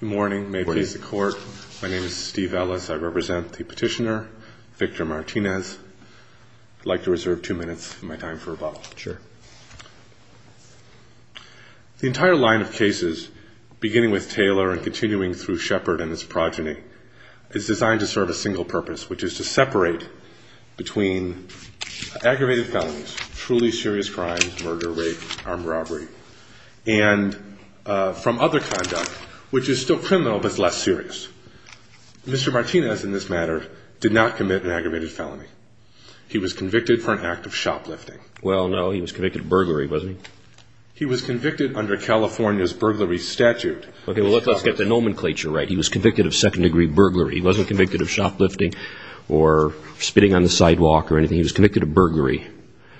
Good morning. May it please the court. My name is Steve Ellis. I represent the petitioner, Victor Martinez. I'd like to reserve two minutes of my time for a bottle. Sure. The entire line of cases, beginning with Taylor and continuing through Shepard and his progeny, is designed to serve a single purpose, which is to separate between aggravated felonies, truly serious crimes, murder, rape, armed robbery, and from other conduct, which is still criminal but less serious. Mr. Martinez, in this matter, did not commit an aggravated felony. He was convicted for an act of shoplifting. Well, no, he was convicted of burglary, wasn't he? He was convicted under California's burglary statute. Okay, well, let's get the nomenclature right. He was convicted of second-degree burglary. He wasn't convicted of shoplifting or spitting on the sidewalk or anything. He was convicted of burglary.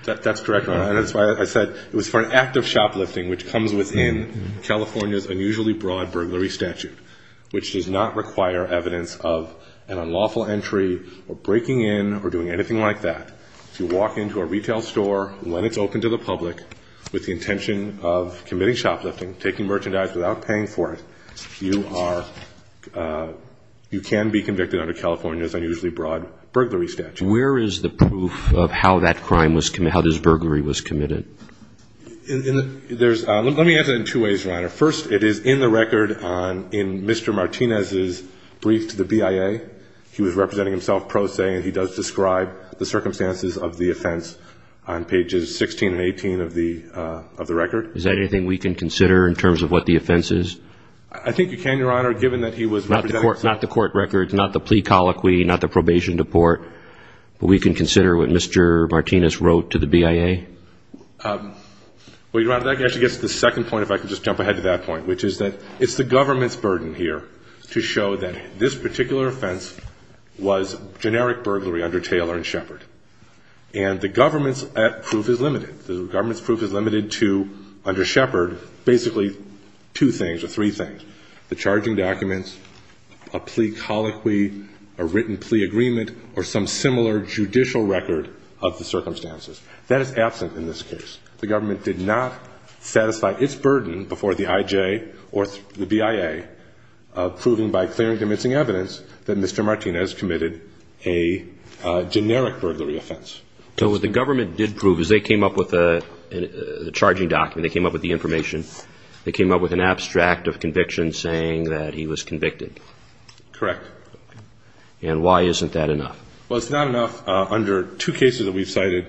That's correct, Your Honor, and that's why I said it was for an act of shoplifting, which comes within California's unusually broad burglary statute, which does not require evidence of an unlawful entry or breaking in or doing anything like that. If you walk into a retail store when it's open to the public with the intention of committing shoplifting, taking merchandise without paying for it, you are, you can be convicted under California's unusually broad burglary statute. Where is the proof of how that crime was, how this burglary was committed? There's, let me answer it in two ways, Your Honor. First, it is in the record in Mr. Martinez's brief to the BIA. He was representing himself pro se, and he does describe the circumstances of the offense on pages 16 and 18 of the record. Is that anything we can consider in terms of what the offense is? I think you can, Your Honor, given that he was representing himself. Not the court record, not the plea colloquy, not the probation report, but we can consider what Mr. Martinez wrote to the BIA? Well, Your Honor, that actually gets to the second point, if I could just jump ahead to that point, which is that it's the government's burden here to show that this particular offense was generic burglary under Taylor and Shepard. And the government's proof is limited. Under Shepard, basically two things or three things, the charging documents, a plea colloquy, a written plea agreement, or some similar judicial record of the circumstances. That is absent in this case. The government did not satisfy its burden before the IJ or the BIA, proving by clear and convincing evidence that Mr. Martinez committed a generic burglary offense. So what the government did prove is they came up with a charging document. They came up with the information. They came up with an abstract of conviction saying that he was convicted. Correct. And why isn't that enough? Well, it's not enough under two cases that we've cited.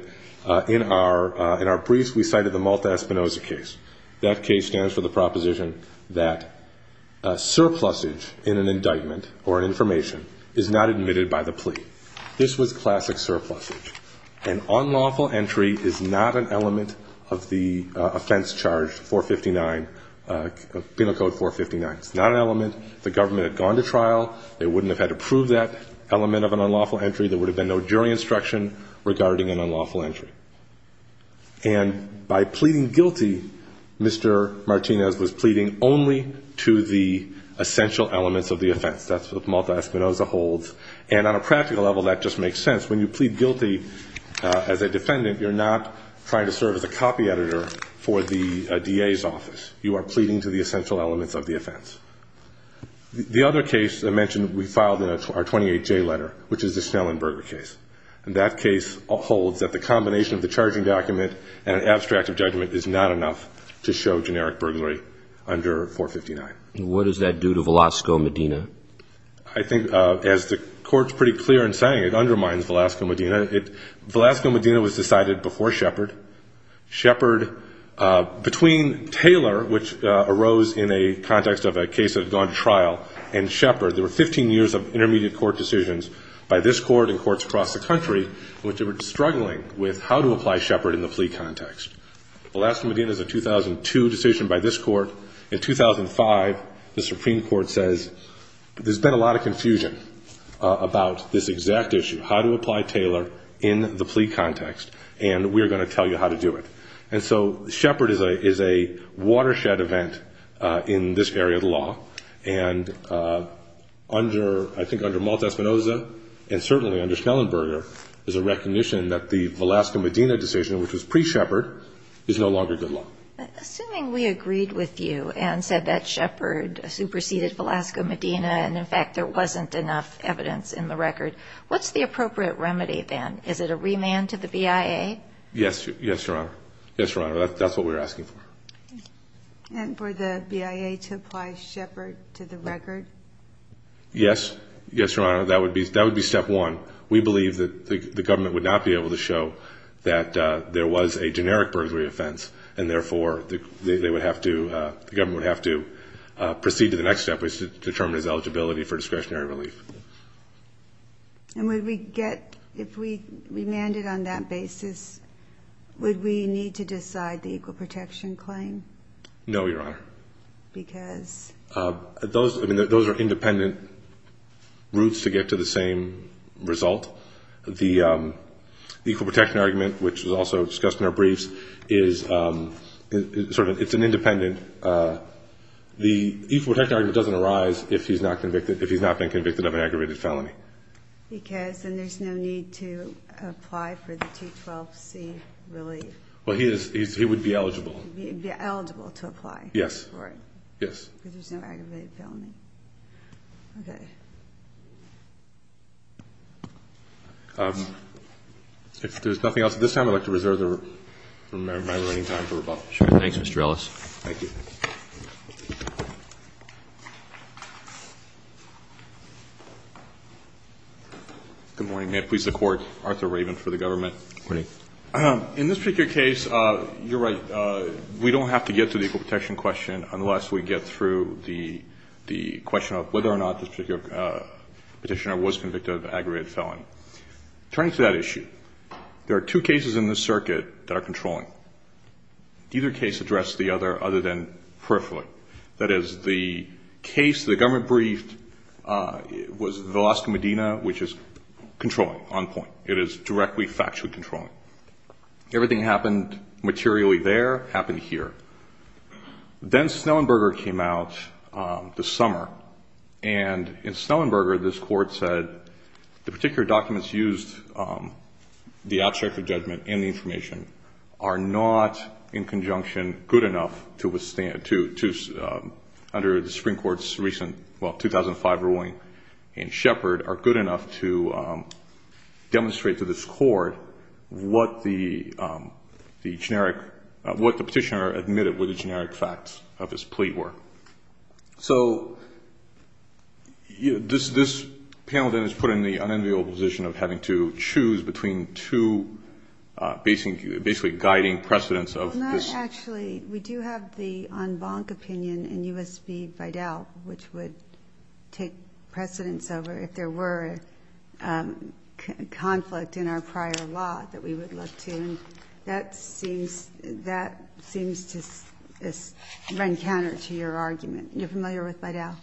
In our briefs, we cited the Malta-Espinoza case. That case stands for the proposition that surplusage in an indictment or an information is not admitted by the plea. This was classic surplusage. An unlawful entry is not an element of the offense charge 459, Penal Code 459. It's not an element. If the government had gone to trial, they wouldn't have had to prove that element of an unlawful entry. There would have been no jury instruction regarding an unlawful entry. And by pleading guilty, Mr. Martinez was pleading only to the essential elements of the offense. That's what Malta-Espinoza holds. And on a practical level, that just makes sense. When you plead guilty as a defendant, you're not trying to serve as a copy editor for the DA's office. You are pleading to the essential elements of the offense. The other case I mentioned we filed in our 28J letter, which is the Snellenberger case. And that case holds that the combination of the charging document and an abstract of judgment is not enough to show generic burglary under 459. And what does that do to Velasco Medina? I think, as the Court's pretty clear in saying, it undermines Velasco Medina. Velasco Medina was decided before Shepard. Shepard, between Taylor, which arose in a context of a case that had gone to trial, and Shepard, there were 15 years of intermediate court decisions by this Court and courts across the country in which they were struggling with how to apply Shepard in the plea context. Velasco Medina is a 2002 decision by this Court. In 2005, the Supreme Court says there's been a lot of confusion about this exact issue, how to apply Taylor in the plea context, and we are going to tell you how to do it. And so Shepard is a watershed event in this area of the law. And under, I think under Malta-Espinosa and certainly under Snellenberger, there's a recognition that the Velasco Medina decision, which was pre-Shepard, is no longer good law. Assuming we agreed with you and said that Shepard superseded Velasco Medina and, in fact, there wasn't enough evidence in the record, what's the appropriate remedy then? Is it a remand to the BIA? Yes, Your Honor. Yes, Your Honor. That's what we're asking for. And for the BIA to apply Shepard to the record? Yes. Yes, Your Honor. That would be step one. We believe that the government would not be able to show that there was a generic perjury offense and therefore they would have to, the government would have to proceed to the next step, which is to determine his eligibility for discretionary relief. And would we get, if we remanded on that basis, would we need to decide the equal protection claim? No, Your Honor. Because? Those are independent routes to get to the same result. The equal protection argument, which was also discussed in our briefs, is sort of, it's an independent. The equal protection argument doesn't arise if he's not convicted, if he's not been convicted of an aggravated felony. Because then there's no need to apply for the 212C relief. Well, he would be eligible. He would be eligible to apply for it. Yes. Because there's no aggravated felony. Okay. If there's nothing else at this time, I'd like to reserve my remaining time for rebuttal. Sure. Thanks, Mr. Ellis. Thank you. Good morning. May it please the Court, Arthur Raven for the government. Good morning. In this particular case, you're right, we don't have to get to the equal protection question unless we get through the question of whether or not this particular petitioner was convicted of an aggravated felony. Turning to that issue, there are two cases in this circuit that are controlling. Either case addressed the other other than peripherally. That is, the case the government briefed was Velasco, Medina, which is controlling, on point. It is directly, factually controlling. Everything that happened materially there happened here. Then Snellenberger came out this summer. And in Snellenberger, this Court said the particular documents used, the abstract of judgment and the information are not, in conjunction, good enough to withstand, under the Supreme Court's recent 2005 ruling in Shepard, are good enough to demonstrate to this Court what the petitioner admitted were the generic facts of his plea were. So this panel then is put in the unenviable position of having to choose between two basically guiding precedents of this. Well, not actually. We do have the en banc opinion in U.S. v. Vidal, which would take precedence over if there were a conflict in our prior law that we would look to. And that seems to run counter to your argument. You're familiar with Vidal?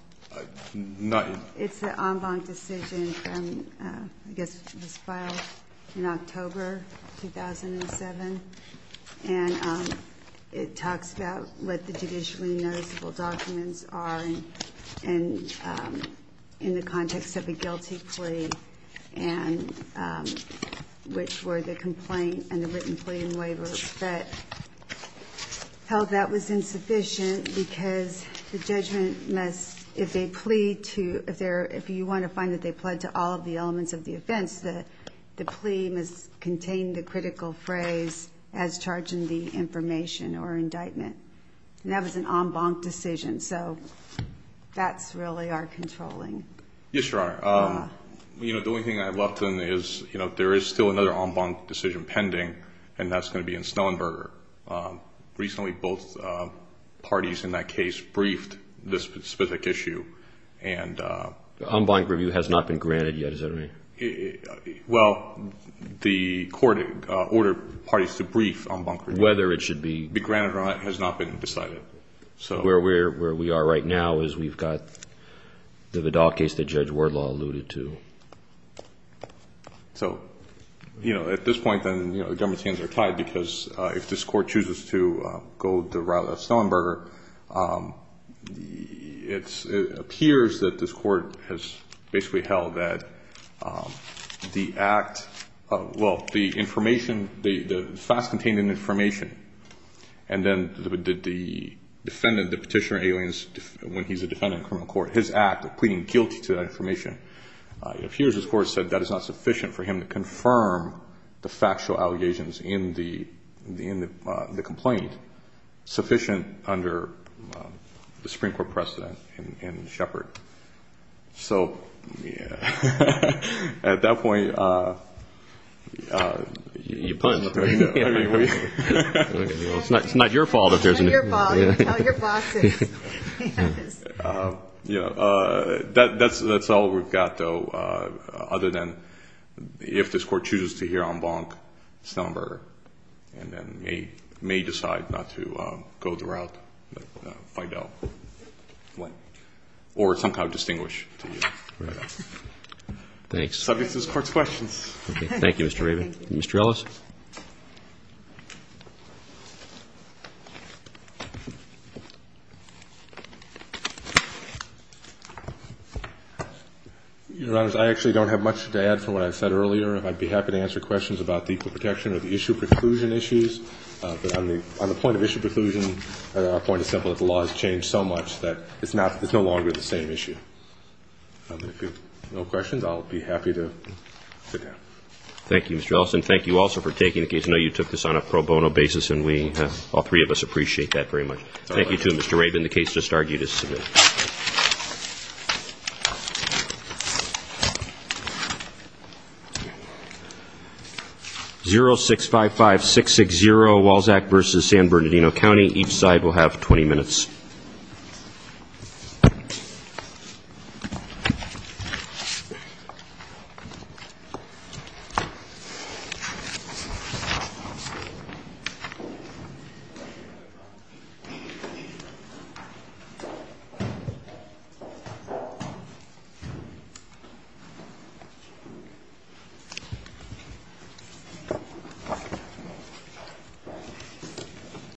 Not yet. It's the en banc decision from, I guess, this file in October 2007. And it talks about what the judicially noticeable documents are in the context of a guilty plea, which were the complaint and the written plea and waiver. But held that was insufficient because the judgment must, if they plead to, if you want to find that they plead to all of the elements of the offense, the plea must contain the critical phrase, as charged in the information or indictment. And that was an en banc decision. So that's really our controlling. Yes, Your Honor. The only thing I'd love to know is if there is still another en banc decision pending, and that's going to be in Snowenberger. Recently both parties in that case briefed this specific issue. En banc review has not been granted yet, is that right? Well, the court ordered parties to brief en banc review. Whether it should be. Be granted or not has not been decided. Where we are right now is we've got the Vidal case that Judge Wardlaw alluded to. So, you know, at this point then the government's hands are tied, because if this court chooses to go the route of Snowenberger, it appears that this court has basically held that the act, well, the information, the facts contained in the information, and then the defendant, the petitioner, when he's a defendant in criminal court, his act of pleading guilty to that information, appears, of course, that that is not sufficient for him to confirm the factual allegations in the complaint, sufficient under the Supreme Court precedent in Shepard. So at that point, you know. It's not your fault. It's not your fault. Tell your bosses. You know, that's all we've got, though, other than if this court chooses to hear en banc Snowenberger and then may decide not to go the route of Vidal or somehow distinguish. Right. Thanks. Subject to this court's questions. Thank you, Mr. Raven. Mr. Ellis. Your Honor, I actually don't have much to add from what I said earlier. I'd be happy to answer questions about the equal protection or the issue preclusion issues. But on the point of issue preclusion, our point is simple that the law has changed so much that it's no longer the same issue. If you have no questions, I'll be happy to sit down. Thank you, Mr. Ellis. And thank you also for taking the case. I know you took this on a pro bono basis, and we, all three of us, appreciate that very much. Thank you, too, Mr. Raven. And the case has started. You may submit. 0655660, Walzak v. San Bernardino County. Each side will have 20 minutes.